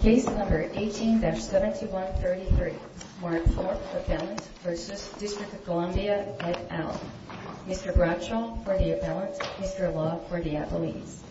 Case No. 18-7133, Warren Thorp, Appellant, v. District of Columbia, Ed Allen. Mr. Bradshaw for the appellant, Mr. Law for the employees.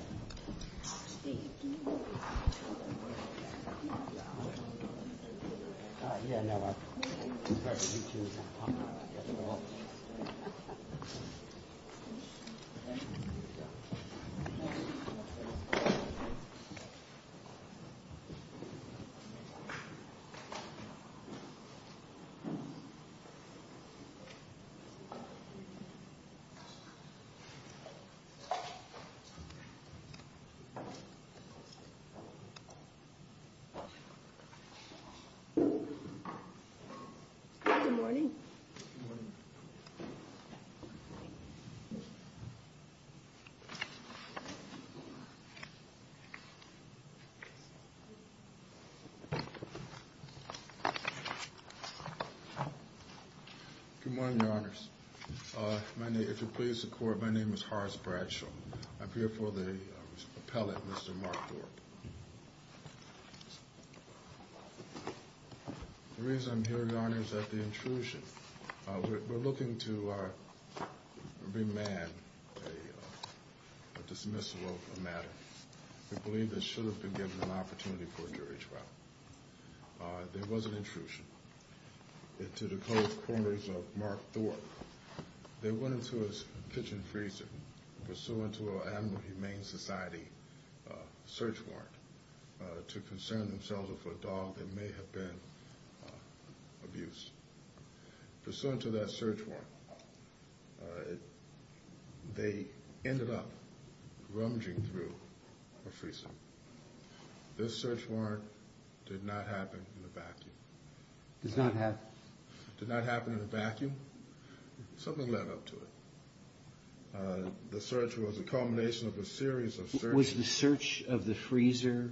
Good morning. Good morning, Your Honors. If you'll please record, my name is Horace Bradshaw. I'm here for the appellant, Mr. Mark Thorp. The reason I'm here, Your Honor, is that the intrusion, we're looking to remand a dismissal of a matter. We believe this should have been given an opportunity for a jury trial. There was an intrusion into the closed corners of Mark Thorp. They went into a kitchen freezer pursuant to an animal humane society search warrant to concern themselves with a dog that may have been abused. Pursuant to that search warrant, they ended up rummaging through a freezer. This search warrant did not happen in a vacuum. Did not happen? Did not happen in a vacuum. Something led up to it. The search was a culmination of a series of searches. Was the search of the freezer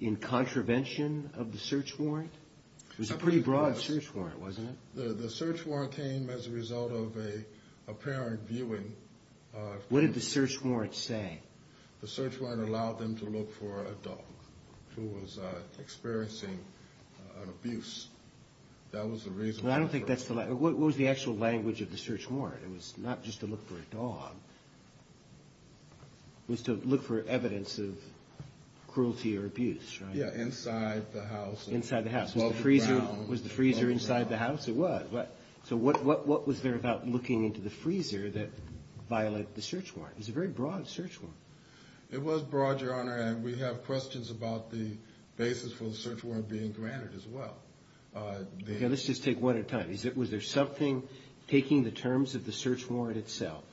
in contravention of the search warrant? It was a pretty broad search warrant, wasn't it? The search warrant came as a result of an apparent viewing. What did the search warrant say? The search warrant allowed them to look for a dog who was experiencing an abuse. That was the reason. What was the actual language of the search warrant? It was not just to look for a dog. It was to look for evidence of cruelty or abuse, right? Yeah, inside the house. Inside the house. Was the freezer inside the house? It was. So what was there about looking into the freezer that violated the search warrant? It was a very broad search warrant. It was broad, Your Honor, and we have questions about the basis for the search warrant being granted as well. Okay, let's just take one at a time. Was there something, taking the terms of the search warrant itself,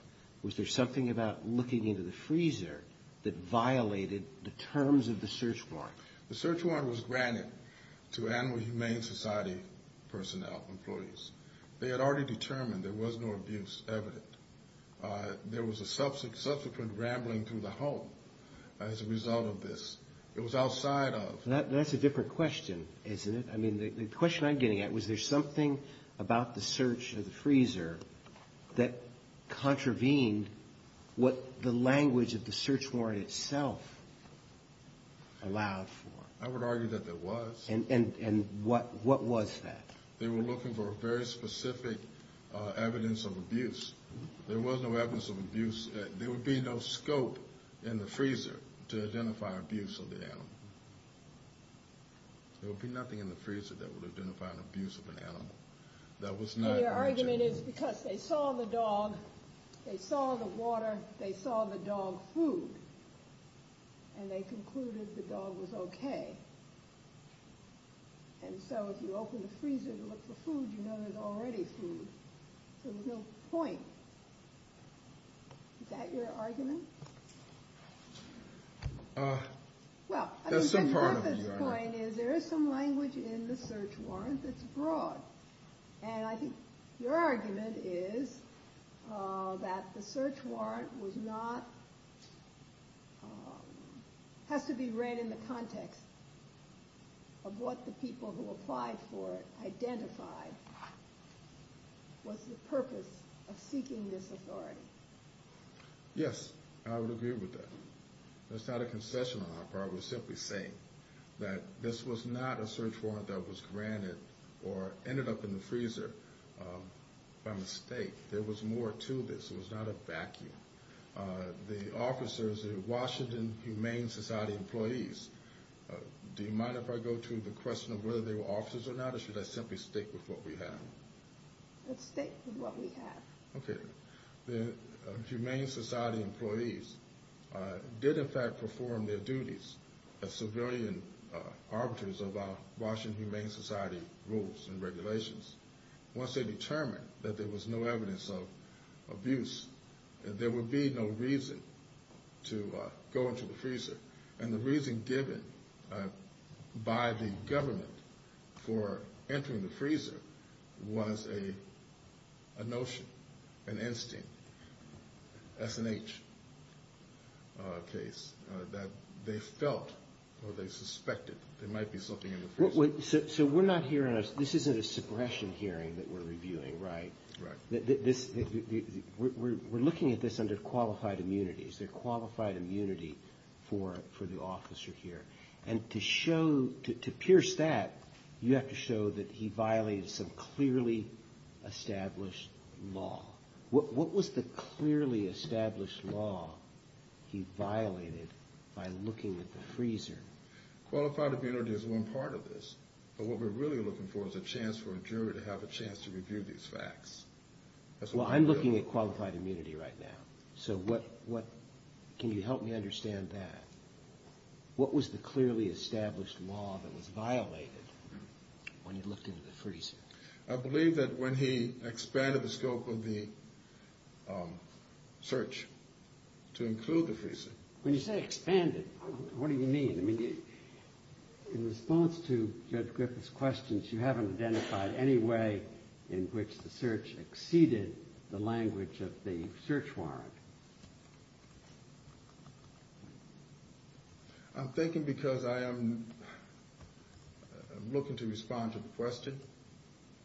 was there something about looking into the freezer that violated the terms of the search warrant? The search warrant was granted to Animal Humane Society personnel, employees. They had already determined there was no abuse evident. There was a subsequent rambling through the home as a result of this. It was outside of... That's a different question, isn't it? I mean, the question I'm getting at, was there something about the search of the freezer that contravened what the language of the search warrant itself allowed for? I would argue that there was. And what was that? They were looking for very specific evidence of abuse. There was no evidence of abuse. There would be no scope in the freezer to identify abuse of the animal. There would be nothing in the freezer that would identify an abuse of an animal. That was not... Your argument is because they saw the dog, they saw the water, they saw the dog food, and they concluded the dog was okay. And so if you open the freezer to look for food, you know there's already food. So there's no point. Is that your argument? That's some part of it, Your Honor. Well, I mean, my purpose point is there is some language in the search warrant that's broad. And I think your argument is that the search warrant was not... has to be read in the context of what the people who applied for it identified was the purpose of seeking this authority. Yes, I would agree with that. That's not a concession on our part. We're simply saying that this was not a search warrant that was granted or ended up in the freezer by mistake. There was more to this. It was not a vacuum. The officers, the Washington Humane Society employees... Do you mind if I go to the question of whether they were officers or not, or should I simply stick with what we have? Let's stick with what we have. Okay. The Humane Society employees did in fact perform their duties as civilian arbiters of our Washington Humane Society rules and regulations. Once they determined that there was no evidence of abuse, there would be no reason to go into the freezer. And the reason given by the government for entering the freezer was a notion, an instinct, as in each case, that they felt or they suspected there might be something in the freezer. So we're not hearing... this isn't a suppression hearing that we're reviewing, right? Right. We're looking at this under qualified immunities. They're qualified immunity for the officer here. And to show... to pierce that, you have to show that he violated some clearly established law. What was the clearly established law he violated by looking at the freezer? Qualified immunity is one part of this. But what we're really looking for is a chance for a jury to have a chance to review these facts. Well, I'm looking at qualified immunity right now. So what... can you help me understand that? What was the clearly established law that was violated when you looked into the freezer? I believe that when he expanded the scope of the search to include the freezer. When you say expanded, what do you mean? I mean, in response to Judge Griffith's questions, you haven't identified any way in which the search exceeded the language of the search warrant. I'm thinking because I am looking to respond to the question,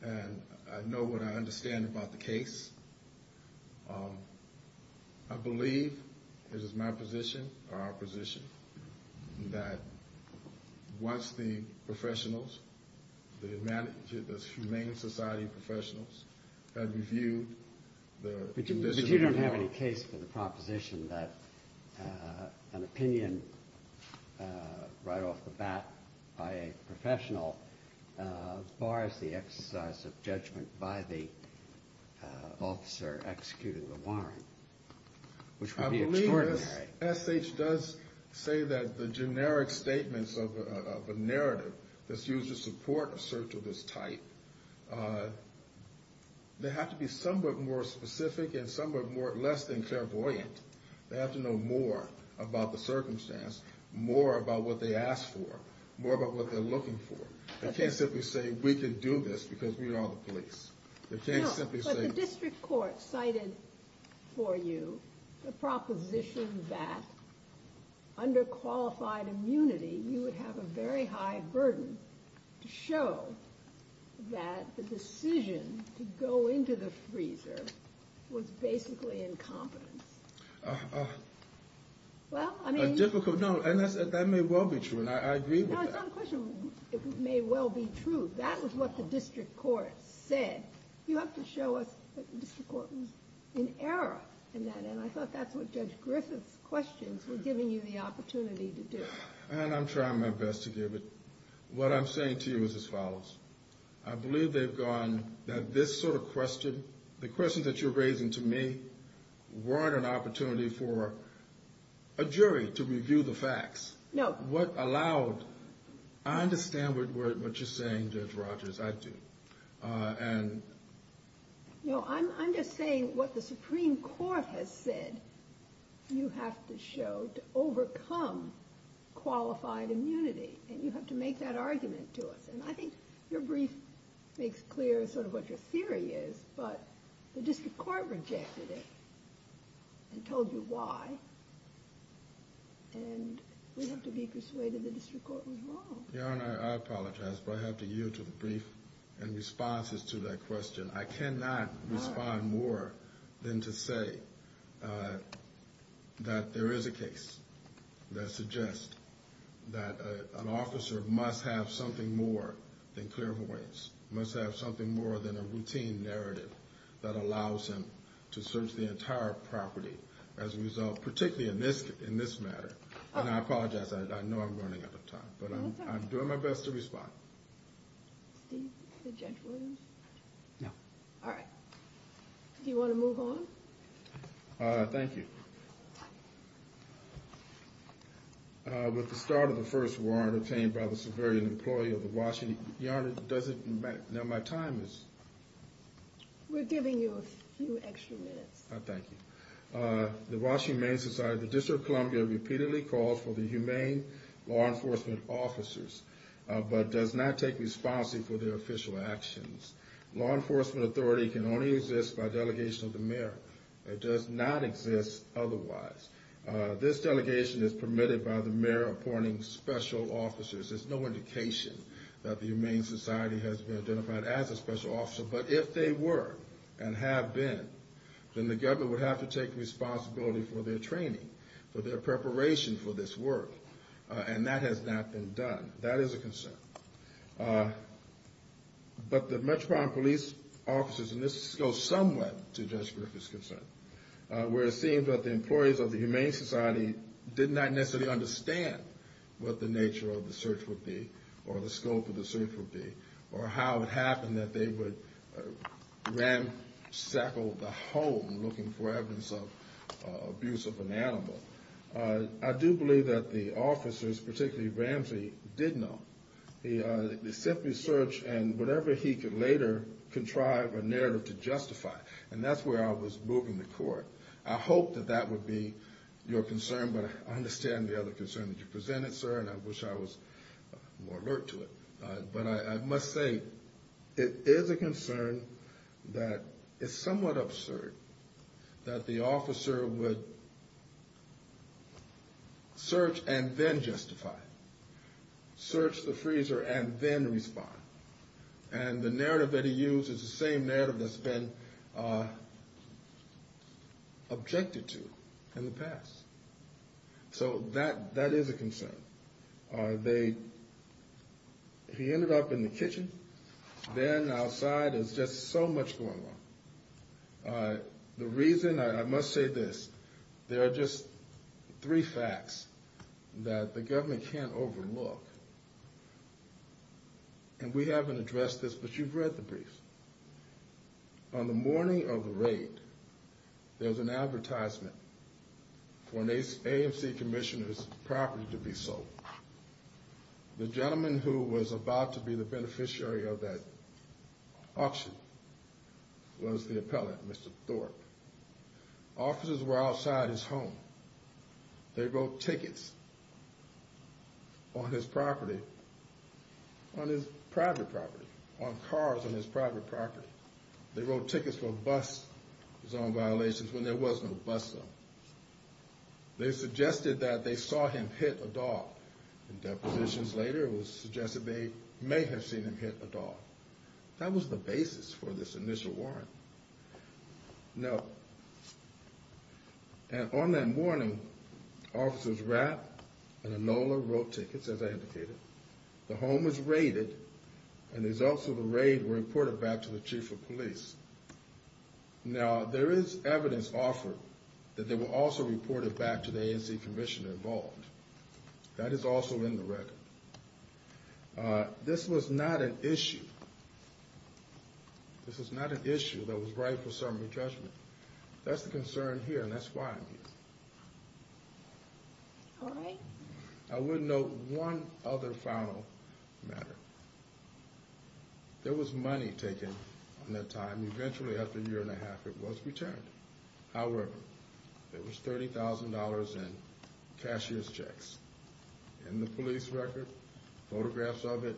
and I know what I understand about the case. I believe it is my position, or our position, that once the professionals, the humane society professionals, have reviewed the conditions... I'm looking for the proposition that an opinion right off the bat by a professional bars the exercise of judgment by the officer executing the warrant, which would be extraordinary. Because SH does say that the generic statements of a narrative that's used to support a search of this type, they have to be somewhat more specific and somewhat less than clairvoyant. They have to know more about the circumstance, more about what they asked for, more about what they're looking for. I can't simply say we can do this because we are the police. The district court cited for you the proposition that under qualified immunity, you would have a very high burden to show that the decision to go into the freezer was basically incompetence. Well, I mean... A difficult, no, and that may well be true, and I agree with that. No, it's not a question it may well be true. That was what the district court said. You have to show us that the district court was in error in that, and I thought that's what Judge Griffith's questions were giving you the opportunity to do. And I'm trying my best to give it. What I'm saying to you is as follows. I believe they've gone, that this sort of question, the questions that you're raising to me weren't an opportunity for a jury to review the facts. No. What allowed, I understand what you're saying, Judge Rogers, I do. And... No, I'm just saying what the Supreme Court has said you have to show to overcome qualified immunity, and you have to make that argument to us. And I think your brief makes clear sort of what your theory is, but the district court rejected it and told you why. And we have to be persuaded the district court was wrong. Your Honor, I apologize, but I have to yield to the brief and responses to that question. I cannot respond more than to say that there is a case that suggests that an officer must have something more than clear voice, must have something more than a routine narrative that allows him to search the entire property as a result, particularly in this matter. And I apologize, I know I'm running out of time, but I'm doing my best to respond. Steve, did Judge Williams? No. All right. Do you want to move on? Thank you. With the start of the First War and obtained by the civilian employee of the Washington... Your Honor, does it... Now my time is... We're giving you a few extra minutes. Thank you. The Washington Humane Society, the District of Columbia repeatedly calls for the humane law enforcement officers, but does not take responsibility for their official actions. Law enforcement authority can only exist by delegation of the mayor. It does not exist otherwise. This delegation is permitted by the mayor appointing special officers. There's no indication that the Humane Society has been identified as a special officer, but if they were and have been, then the government would have to take responsibility for their training, for their preparation for this work, and that has not been done. That is a concern. But the Metropolitan Police officers, and this goes somewhat to Judge Griffith's concern, where it seems that the employees of the Humane Society did not necessarily understand what the nature of the search would be, or the scope of the search would be, or how it happened that they would ransack the home looking for evidence of abuse of an animal. I do believe that the officers, particularly Ramsey, did know. They simply searched and whatever he could later contrive a narrative to justify, and that's where I was moving the court. I hope that that would be your concern, but I understand the other concern that you presented, sir, and I wish I was more alert to it. But I must say, it is a concern that is somewhat absurd that the officer would search and then justify. Search the freezer and then respond. And the narrative that he used is the same narrative that's been objected to in the past. So that is a concern. He ended up in the kitchen, then outside, there's just so much going on. The reason, I must say this, there are just three facts that the government can't overlook. And we haven't addressed this, but you've read the brief. On the morning of the raid, there was an advertisement for an AMC commissioner's property to be sold. The gentleman who was about to be the beneficiary of that auction was the appellate, Mr. Thorpe. Officers were outside his home. They wrote tickets on his property, on his private property, on cars on his private property. They wrote tickets for bus zone violations when there was no bus zone. They suggested that they saw him hit a dog. Depositions later, it was suggested they may have seen him hit a dog. That was the basis for this initial warrant. Now, on that morning, officers Rapp and Enola wrote tickets, as I indicated. The home was raided, and the results of the raid were reported back to the chief of police. Now, there is evidence offered that they were also reported back to the AMC commissioner involved. That is also in the record. This was not an issue. This was not an issue that was right for summary judgment. That's the concern here, and that's why I'm here. I would note one other final matter. There was money taken on that time. Eventually, after a year and a half, it was returned. However, there was $30,000 in cashier's checks in the police record, photographs of it.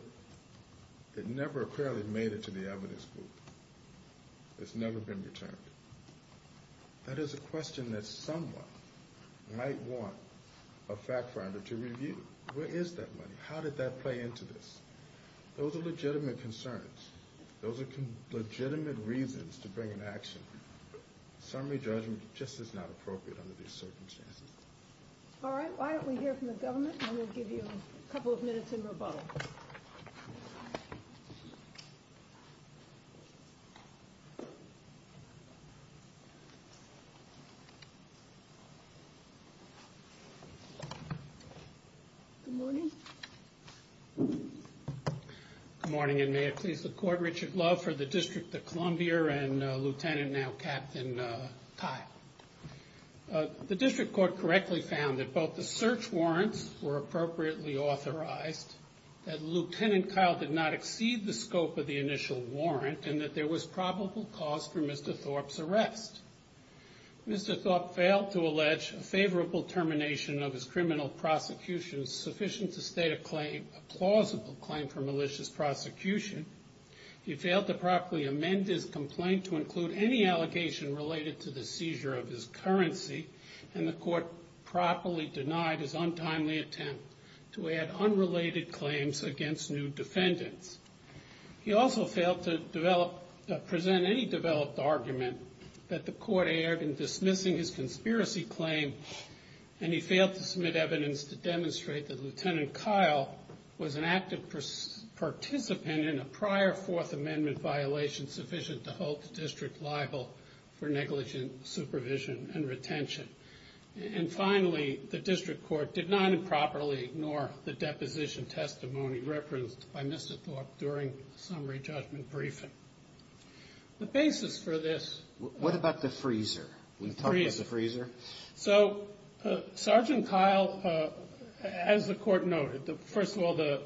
It never apparently made it to the evidence booth. It's never been returned. That is a question that someone might want a fact finder to review. Where is that money? How did that play into this? Those are legitimate concerns. Those are legitimate reasons to bring an action. Summary judgment just is not appropriate under these circumstances. All right, why don't we hear from the government, and we'll give you a couple of minutes in rebuttal. Good morning. Good morning, and may it please the court, Richard Love for the District of Columbia and Lieutenant, now Captain, Kyle. The district court correctly found that both the search warrants were appropriately authorized, that Lieutenant Kyle did not exceed the scope of the initial warrant, and that there was probable cause for Mr. Thorpe's arrest. Mr. Thorpe failed to allege a favorable termination of his criminal prosecution sufficient to state a claim, a plausible claim for malicious prosecution. He failed to properly amend his complaint to include any allegation related to the seizure of his currency, and the court properly denied his untimely attempt to add unrelated claims against new defendants. He also failed to present any developed argument that the court erred in dismissing his conspiracy claim, and he failed to submit evidence to demonstrate that Lieutenant Kyle was an active participant in a prior Fourth Amendment violation sufficient to hold the district liable for negligent supervision and retention. And finally, the district court did not improperly ignore the deposition testimony referenced by Mr. Thorpe during the summary judgment briefing. The basis for this... What about the freezer? We've talked about the freezer. So, Sergeant Kyle, as the court noted, first of all, the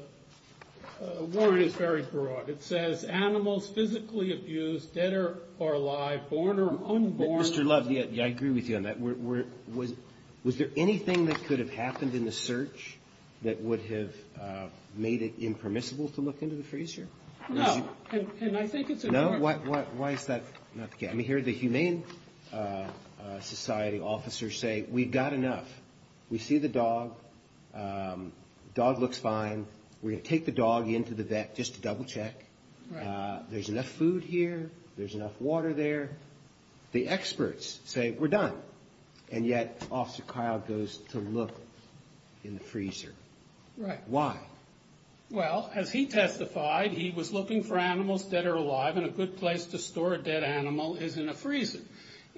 warrant is very broad. It says, animals physically abused, dead or alive, born or unborn... Mr. Love, I agree with you on that. Was there anything that could have happened in the search that would have made it impermissible to look into the freezer? No. And I think it's important... No? Why is that not the case? I mean, here the Humane Society officers say, we've got enough. We see the dog. Dog looks fine. We're going to take the dog into the vet just to double check. There's enough food here. There's enough water there. The experts say, we're done. And yet, Officer Kyle goes to look in the freezer. Right. Why? Well, as he testified, he was looking for animals dead or alive, and a good place to store a dead animal is in a freezer.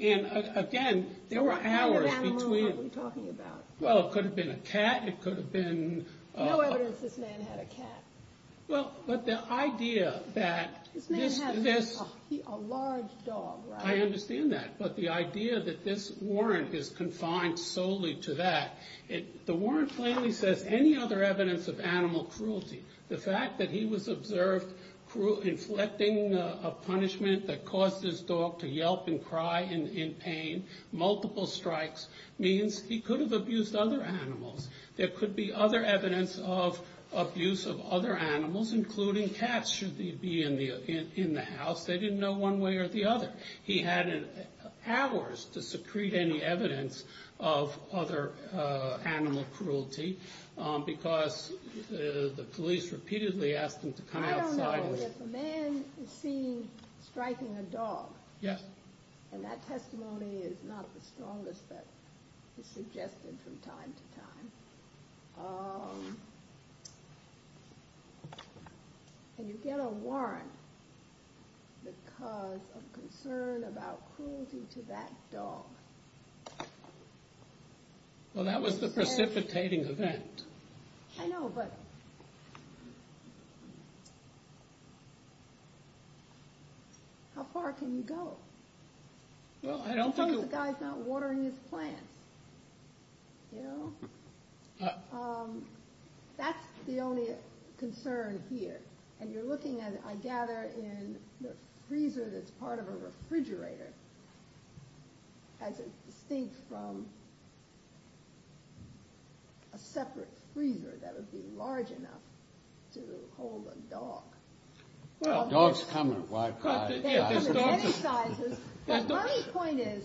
And again, there were hours between... What kind of animal were we talking about? Well, it could have been a cat. It could have been... No evidence this man had a cat. Well, but the idea that... This man had a large dog, right? I understand that. But the idea that this warrant is confined solely to that. The warrant plainly says any other evidence of animal cruelty. The fact that he was observed inflicting a punishment that caused his dog to yelp and cry in pain, multiple strikes, means he could have abused other animals. There could be other evidence of abuse of other animals, including cats, should they be in the house. They didn't know one way or the other. He had hours to secrete any evidence of other animal cruelty because the police repeatedly asked him to come outside... I don't know. If a man is seen striking a dog... Yes. And that testimony is not the strongest that is suggested from time to time. And you get a warrant because of concern about cruelty to that dog. Well, that was the precipitating event. I know, but... How far can you go? Well, I don't think... As long as the guy's not watering his plants, you know? That's the only concern here. And you're looking at, I gather, in the freezer that's part of a refrigerator, as distinct from a separate freezer that would be large enough to hold a dog. Dogs come in wide sizes. But my point is,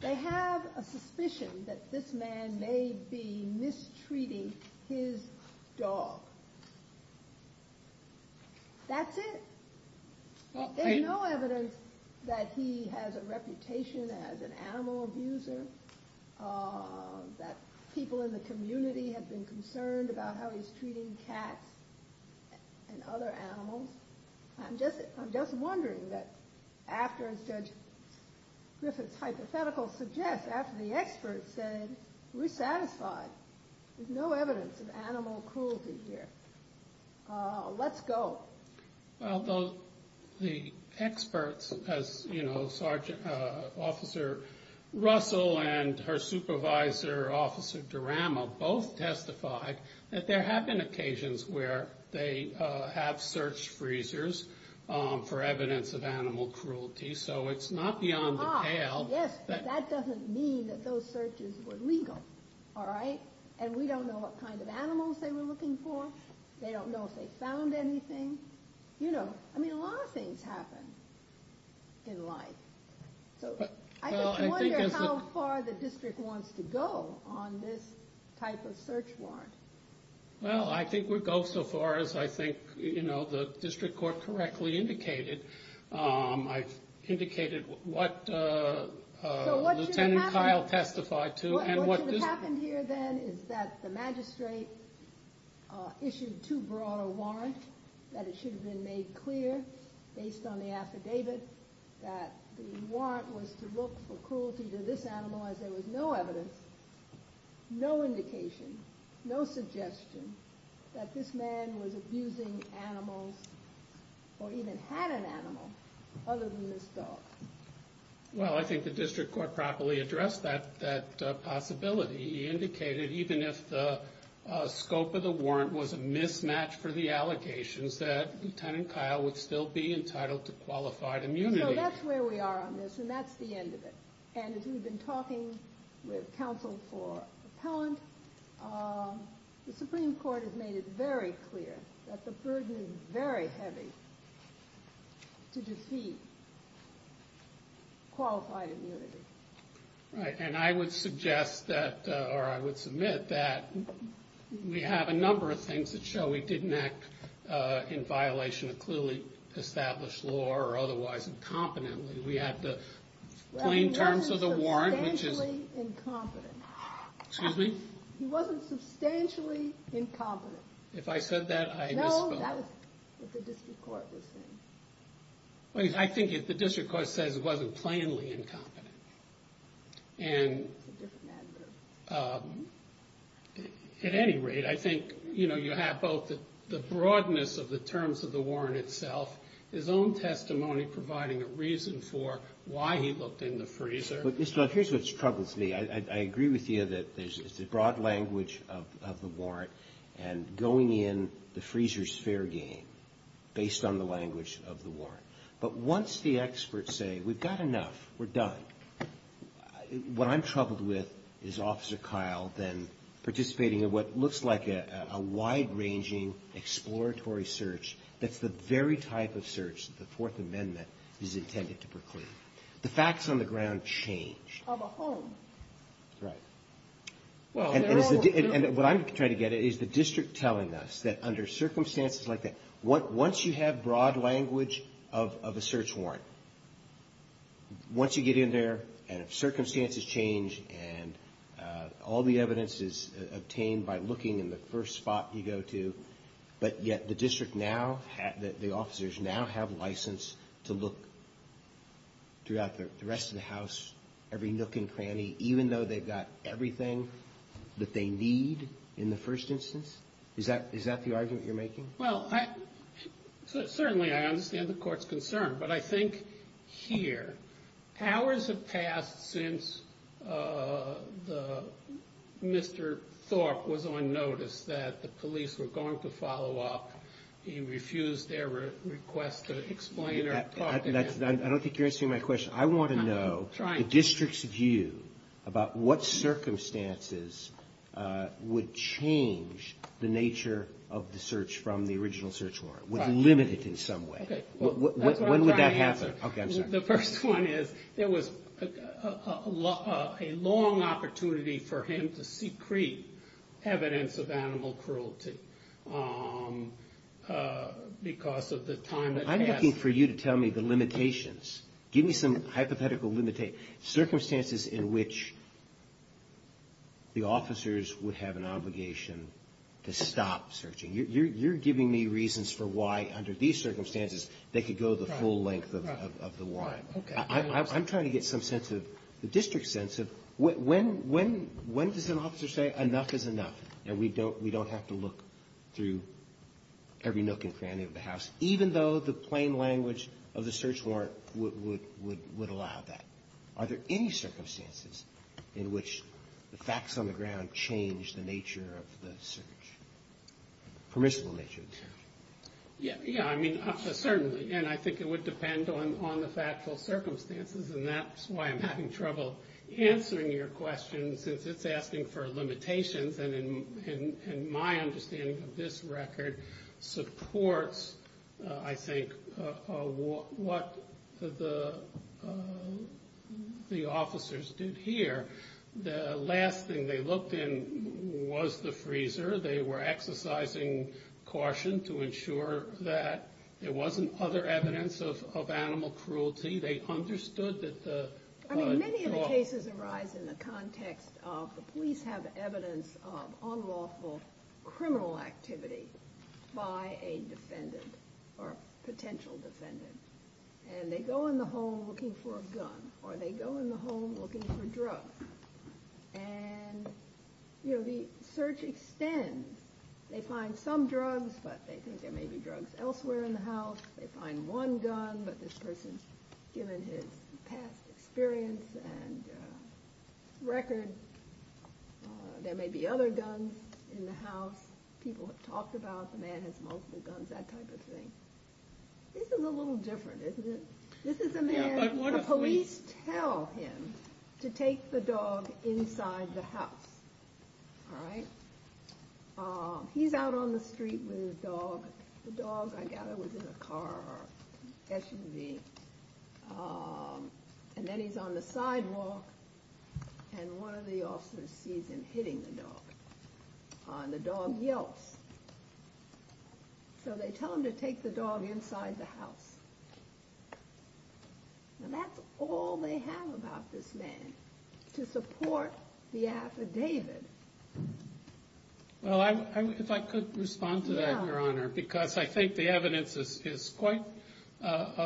they have a suspicion that this man may be mistreating his dog. That's it. There's no evidence that he has a reputation as an animal abuser, that people in the community have been concerned about how he's treating cats and other animals. I'm just wondering that after, as Judge Griffith's hypothetical suggests, after the experts said, we're satisfied, there's no evidence of animal cruelty here. Let's go. Well, the experts, as Officer Russell and her supervisor, Officer Durama, both testified that there have been occasions where they have searched freezers for evidence of animal cruelty. So it's not beyond the tail. Ah, yes, but that doesn't mean that those searches were legal. All right? And we don't know what kind of animals they were looking for. They don't know if they found anything. You know, I mean, a lot of things happen in life. So I just wonder how far the district wants to go on this type of search warrant. Well, I think we'll go so far as I think the district court correctly indicated. I've indicated what Lieutenant Kyle testified to. What should have happened here then is that the magistrate issued too broad a warrant, that it should have been made clear, based on the affidavit, that the warrant was to look for cruelty to this animal as there was no evidence, no indication, no suggestion that this man was abusing animals or even had an animal other than this dog. Well, I think the district court properly addressed that possibility. He indicated even if the scope of the warrant was a mismatch for the allegations, that Lieutenant Kyle would still be entitled to qualified immunity. So that's where we are on this, and that's the end of it. And as we've been talking with counsel for appellant, the Supreme Court has made it very clear that the burden is very heavy to defeat qualified immunity. Right, and I would suggest that, or I would submit that we have a number of things that show we didn't act in violation of clearly established law or otherwise incompetently. We have the plain terms of the warrant, which is... Well, he wasn't substantially incompetent. Excuse me? He wasn't substantially incompetent. If I said that, I misspoke. No, that was what the district court was saying. Well, I think the district court says he wasn't plainly incompetent. That's a different adverb. At any rate, I think, you know, you have both the broadness of the terms of the warrant itself, his own testimony providing a reason for why he looked in the freezer. Mr. Blunt, here's what struggles me. I agree with you that there's a broad language of the warrant and going in the freezer's fair game based on the language of the warrant. But once the experts say we've got enough, we're done, what I'm troubled with is Officer Kyle then participating in what looks like a wide-ranging exploratory search that's the very type of search the Fourth Amendment is intended to proclaim. The facts on the ground change. Of a home. Right. And what I'm trying to get at is the district telling us that under circumstances like that, once you have broad language of a search warrant, once you get in there and circumstances change and all the evidence is obtained by looking in the first spot you go to, but yet the district now, the officers now have license to look throughout the rest of the house, every nook and cranny, even though they've got everything that they need in the first instance? Is that the argument you're making? Well, certainly I understand the court's concern. But I think here, hours have passed since Mr. Thorpe was on notice that the police were going to follow up. He refused their request to explain or talk to him. I don't think you're answering my question. I want to know. I'm trying to. The district's view about what circumstances would change the nature of the search from the original search warrant? Would limit it in some way? When would that happen? The first one is there was a long opportunity for him to secrete evidence of animal cruelty because of the time that passed. I'm looking for you to tell me the limitations. Give me some hypothetical circumstances in which the officers would have an obligation to stop searching. You're giving me reasons for why under these circumstances they could go the full length of the warrant. Okay. I'm trying to get some sense of the district's sense of when does an officer say enough is enough and we don't have to look through every nook and cranny of the house, even though the plain language of the search warrant would allow that. Are there any circumstances in which the facts on the ground change the nature of the search, permissible nature of the search? Yeah. I mean, certainly. And I think it would depend on the factual circumstances, and that's why I'm having trouble answering your question since it's asking for limitations. And my understanding of this record supports, I think, what the officers did here. The last thing they looked in was the freezer. They were exercising caution to ensure that there wasn't other evidence of animal cruelty. I mean, many of the cases arise in the context of the police have evidence of unlawful criminal activity by a defendant or potential defendant. And they go in the home looking for a gun, or they go in the home looking for drugs. And, you know, the search extends. They find some drugs, but they think there may be drugs elsewhere in the house. They find one gun, but this person's given his past experience and record. There may be other guns in the house. People have talked about the man has multiple guns, that type of thing. This is a little different, isn't it? This is a man. The police tell him to take the dog inside the house. All right. He's out on the street with his dog. The dog, I gather, was in a car or SUV. And then he's on the sidewalk, and one of the officers sees him hitting the dog. And the dog yelps. So they tell him to take the dog inside the house. And that's all they have about this man to support the affidavit. Well, if I could respond to that, Your Honor, because I think the evidence is quite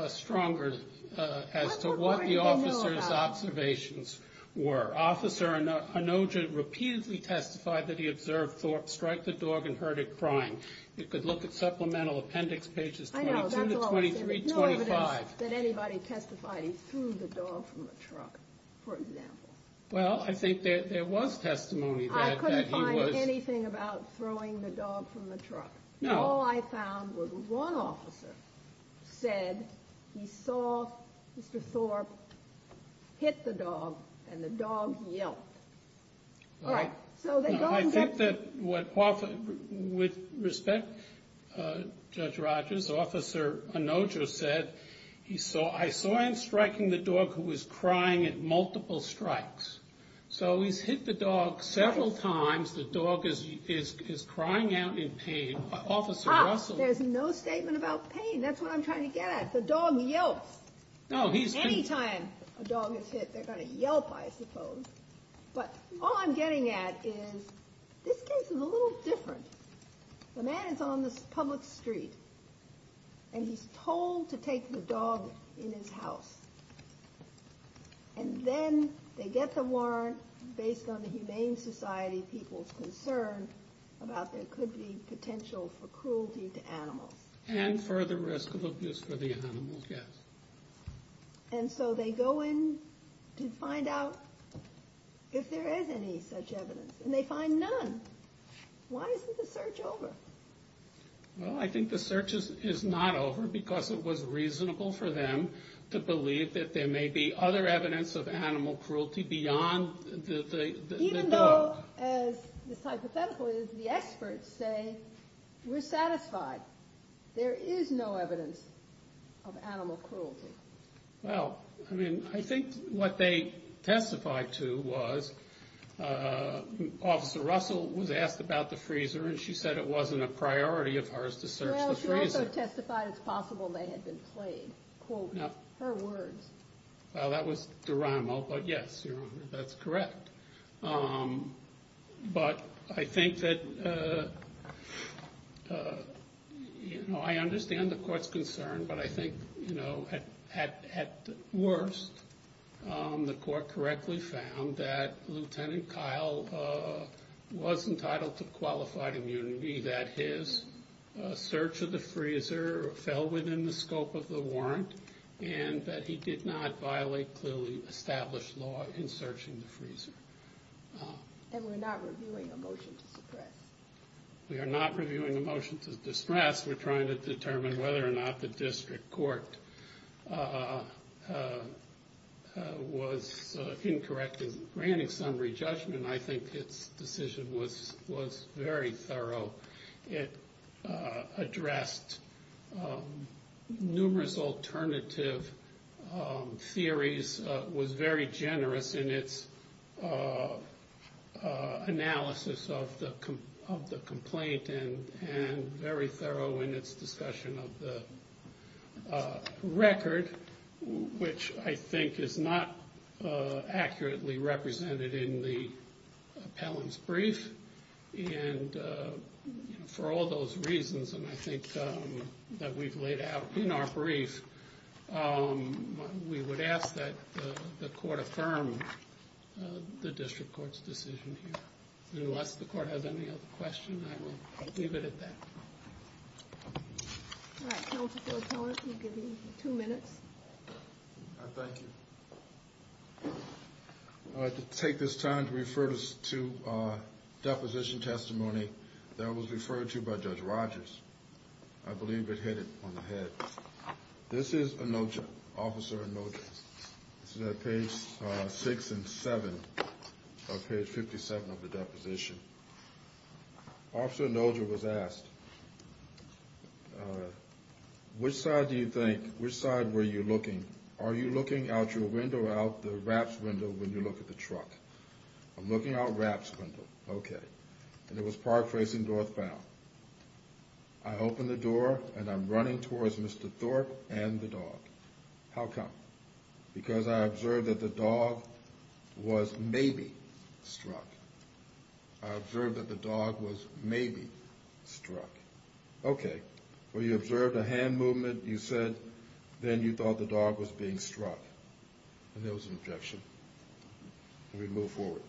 stronger as to what the officer's observations were. Officer Onoja repeatedly testified that he observed Thorpe strike the dog and heard it crying. You could look at supplemental appendix pages 22 to 2325. I know. There's no evidence that anybody testified he threw the dog from the truck, for example. Well, I think there was testimony that he was. I couldn't find anything about throwing the dog from the truck. No. All I found was one officer said he saw Mr. Thorpe hit the dog, and the dog yelped. All right. I think that with respect, Judge Rogers, Officer Onoja said, I saw him striking the dog who was crying at multiple strikes. So he's hit the dog several times. The dog is crying out in pain. Officer Russell. There's no statement about pain. That's what I'm trying to get at. The dog yelps. Any time a dog is hit, they're going to yelp, I suppose. But all I'm getting at is this case is a little different. The man is on the public street, and he's told to take the dog in his house. And then they get the warrant based on the Humane Society people's concern about there could be potential for cruelty to animals. And further risk of abuse for the animals, yes. And so they go in to find out if there is any such evidence, and they find none. Why isn't the search over? Well, I think the search is not over because it was reasonable for them to believe that there may be other evidence of animal cruelty beyond the dog. Even though, as is hypothetical, the experts say we're satisfied. There is no evidence of animal cruelty. Well, I mean, I think what they testified to was Officer Russell was asked about the freezer, and she said it wasn't a priority of hers to search the freezer. Well, she also testified it's possible they had been played, quote, her words. Well, that was Duramo, but yes, Your Honor, that's correct. But I think that, you know, I understand the court's concern, but I think, you know, at worst, the court correctly found that Lieutenant Kyle was entitled to qualified immunity, that his search of the freezer fell within the scope of the warrant, and that he did not violate clearly established law in searching the freezer. And we're not reviewing a motion to suppress. We are not reviewing a motion to distress. We're trying to determine whether or not the district court was incorrect in granting summary judgment. I think its decision was very thorough. It addressed numerous alternative theories, was very generous in its analysis of the complaint, and very thorough in its discussion of the record, which I think is not accurately represented in the appellant's brief. And for all those reasons, and I think that we've laid out in our brief, we would ask that the court affirm the district court's decision here. And unless the court has any other questions, I will leave it at that. All right. Counsel Phil Keller, you have two minutes. Thank you. I'd like to take this time to refer us to a deposition testimony that was referred to by Judge Rogers. I believe it hit it on the head. This is Officer Anoja. This is at page 6 and 7 of page 57 of the deposition. Officer Anoja was asked, which side were you looking? Are you looking out your window or out the wraps window when you look at the truck? I'm looking out wraps window. Okay. And it was park facing northbound. I open the door, and I'm running towards Mr. Thorpe and the dog. How come? Because I observed that the dog was maybe struck. I observed that the dog was maybe struck. Okay. Well, you observed a hand movement. You said then you thought the dog was being struck. And there was an objection. And we move forward.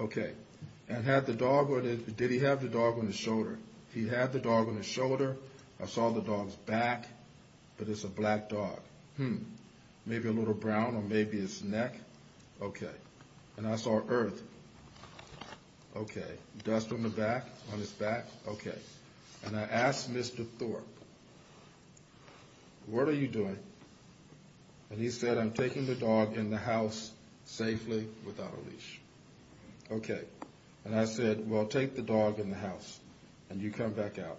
Okay. And did he have the dog on his shoulder? He had the dog on his shoulder. I saw the dog's back, but it's a black dog. Maybe a little brown on maybe his neck. Okay. And I saw earth. Okay. Dust on the back, on his back. Okay. And I asked Mr. Thorpe, what are you doing? And he said, I'm taking the dog in the house safely without a leash. Okay. And I said, well, take the dog in the house, and you come back out.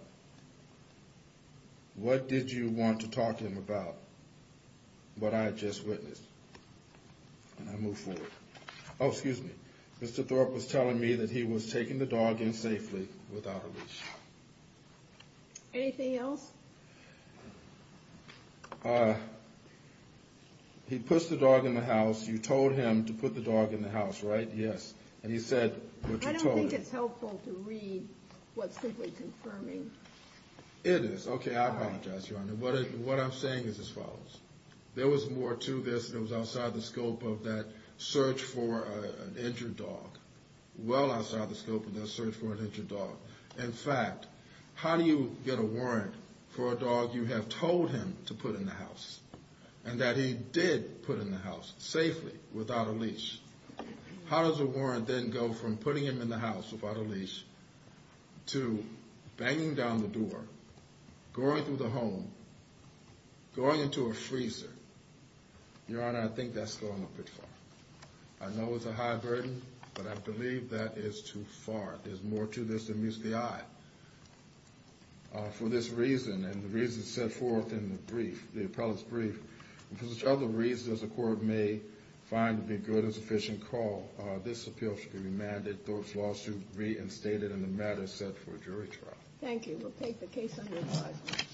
What did you want to talk to him about? What I had just witnessed. And I move forward. Oh, excuse me. Mr. Thorpe was telling me that he was taking the dog in safely without a leash. Anything else? He puts the dog in the house. You told him to put the dog in the house, right? Yes. And he said what you told him. I don't think it's helpful to read what's simply confirming. It is. Okay, I apologize, Your Honor. What I'm saying is as follows. There was more to this than was outside the scope of that search for an injured dog. Well outside the scope of that search for an injured dog. In fact, how do you get a warrant for a dog you have told him to put in the house, and that he did put in the house safely without a leash? How does a warrant then go from putting him in the house without a leash to banging down the door, going through the home, going into a freezer? Your Honor, I think that's going a bit far. I know it's a high burden, but I believe that is too far. There's more to this than meets the eye. For this reason, and the reason set forth in the brief, the appellate's brief, and for which other reasons the court may find to be good and sufficient call, this appeal should be remanded. Thorpe's lawsuit reinstated, and the matter is set for a jury trial. Thank you. We'll take the case under review.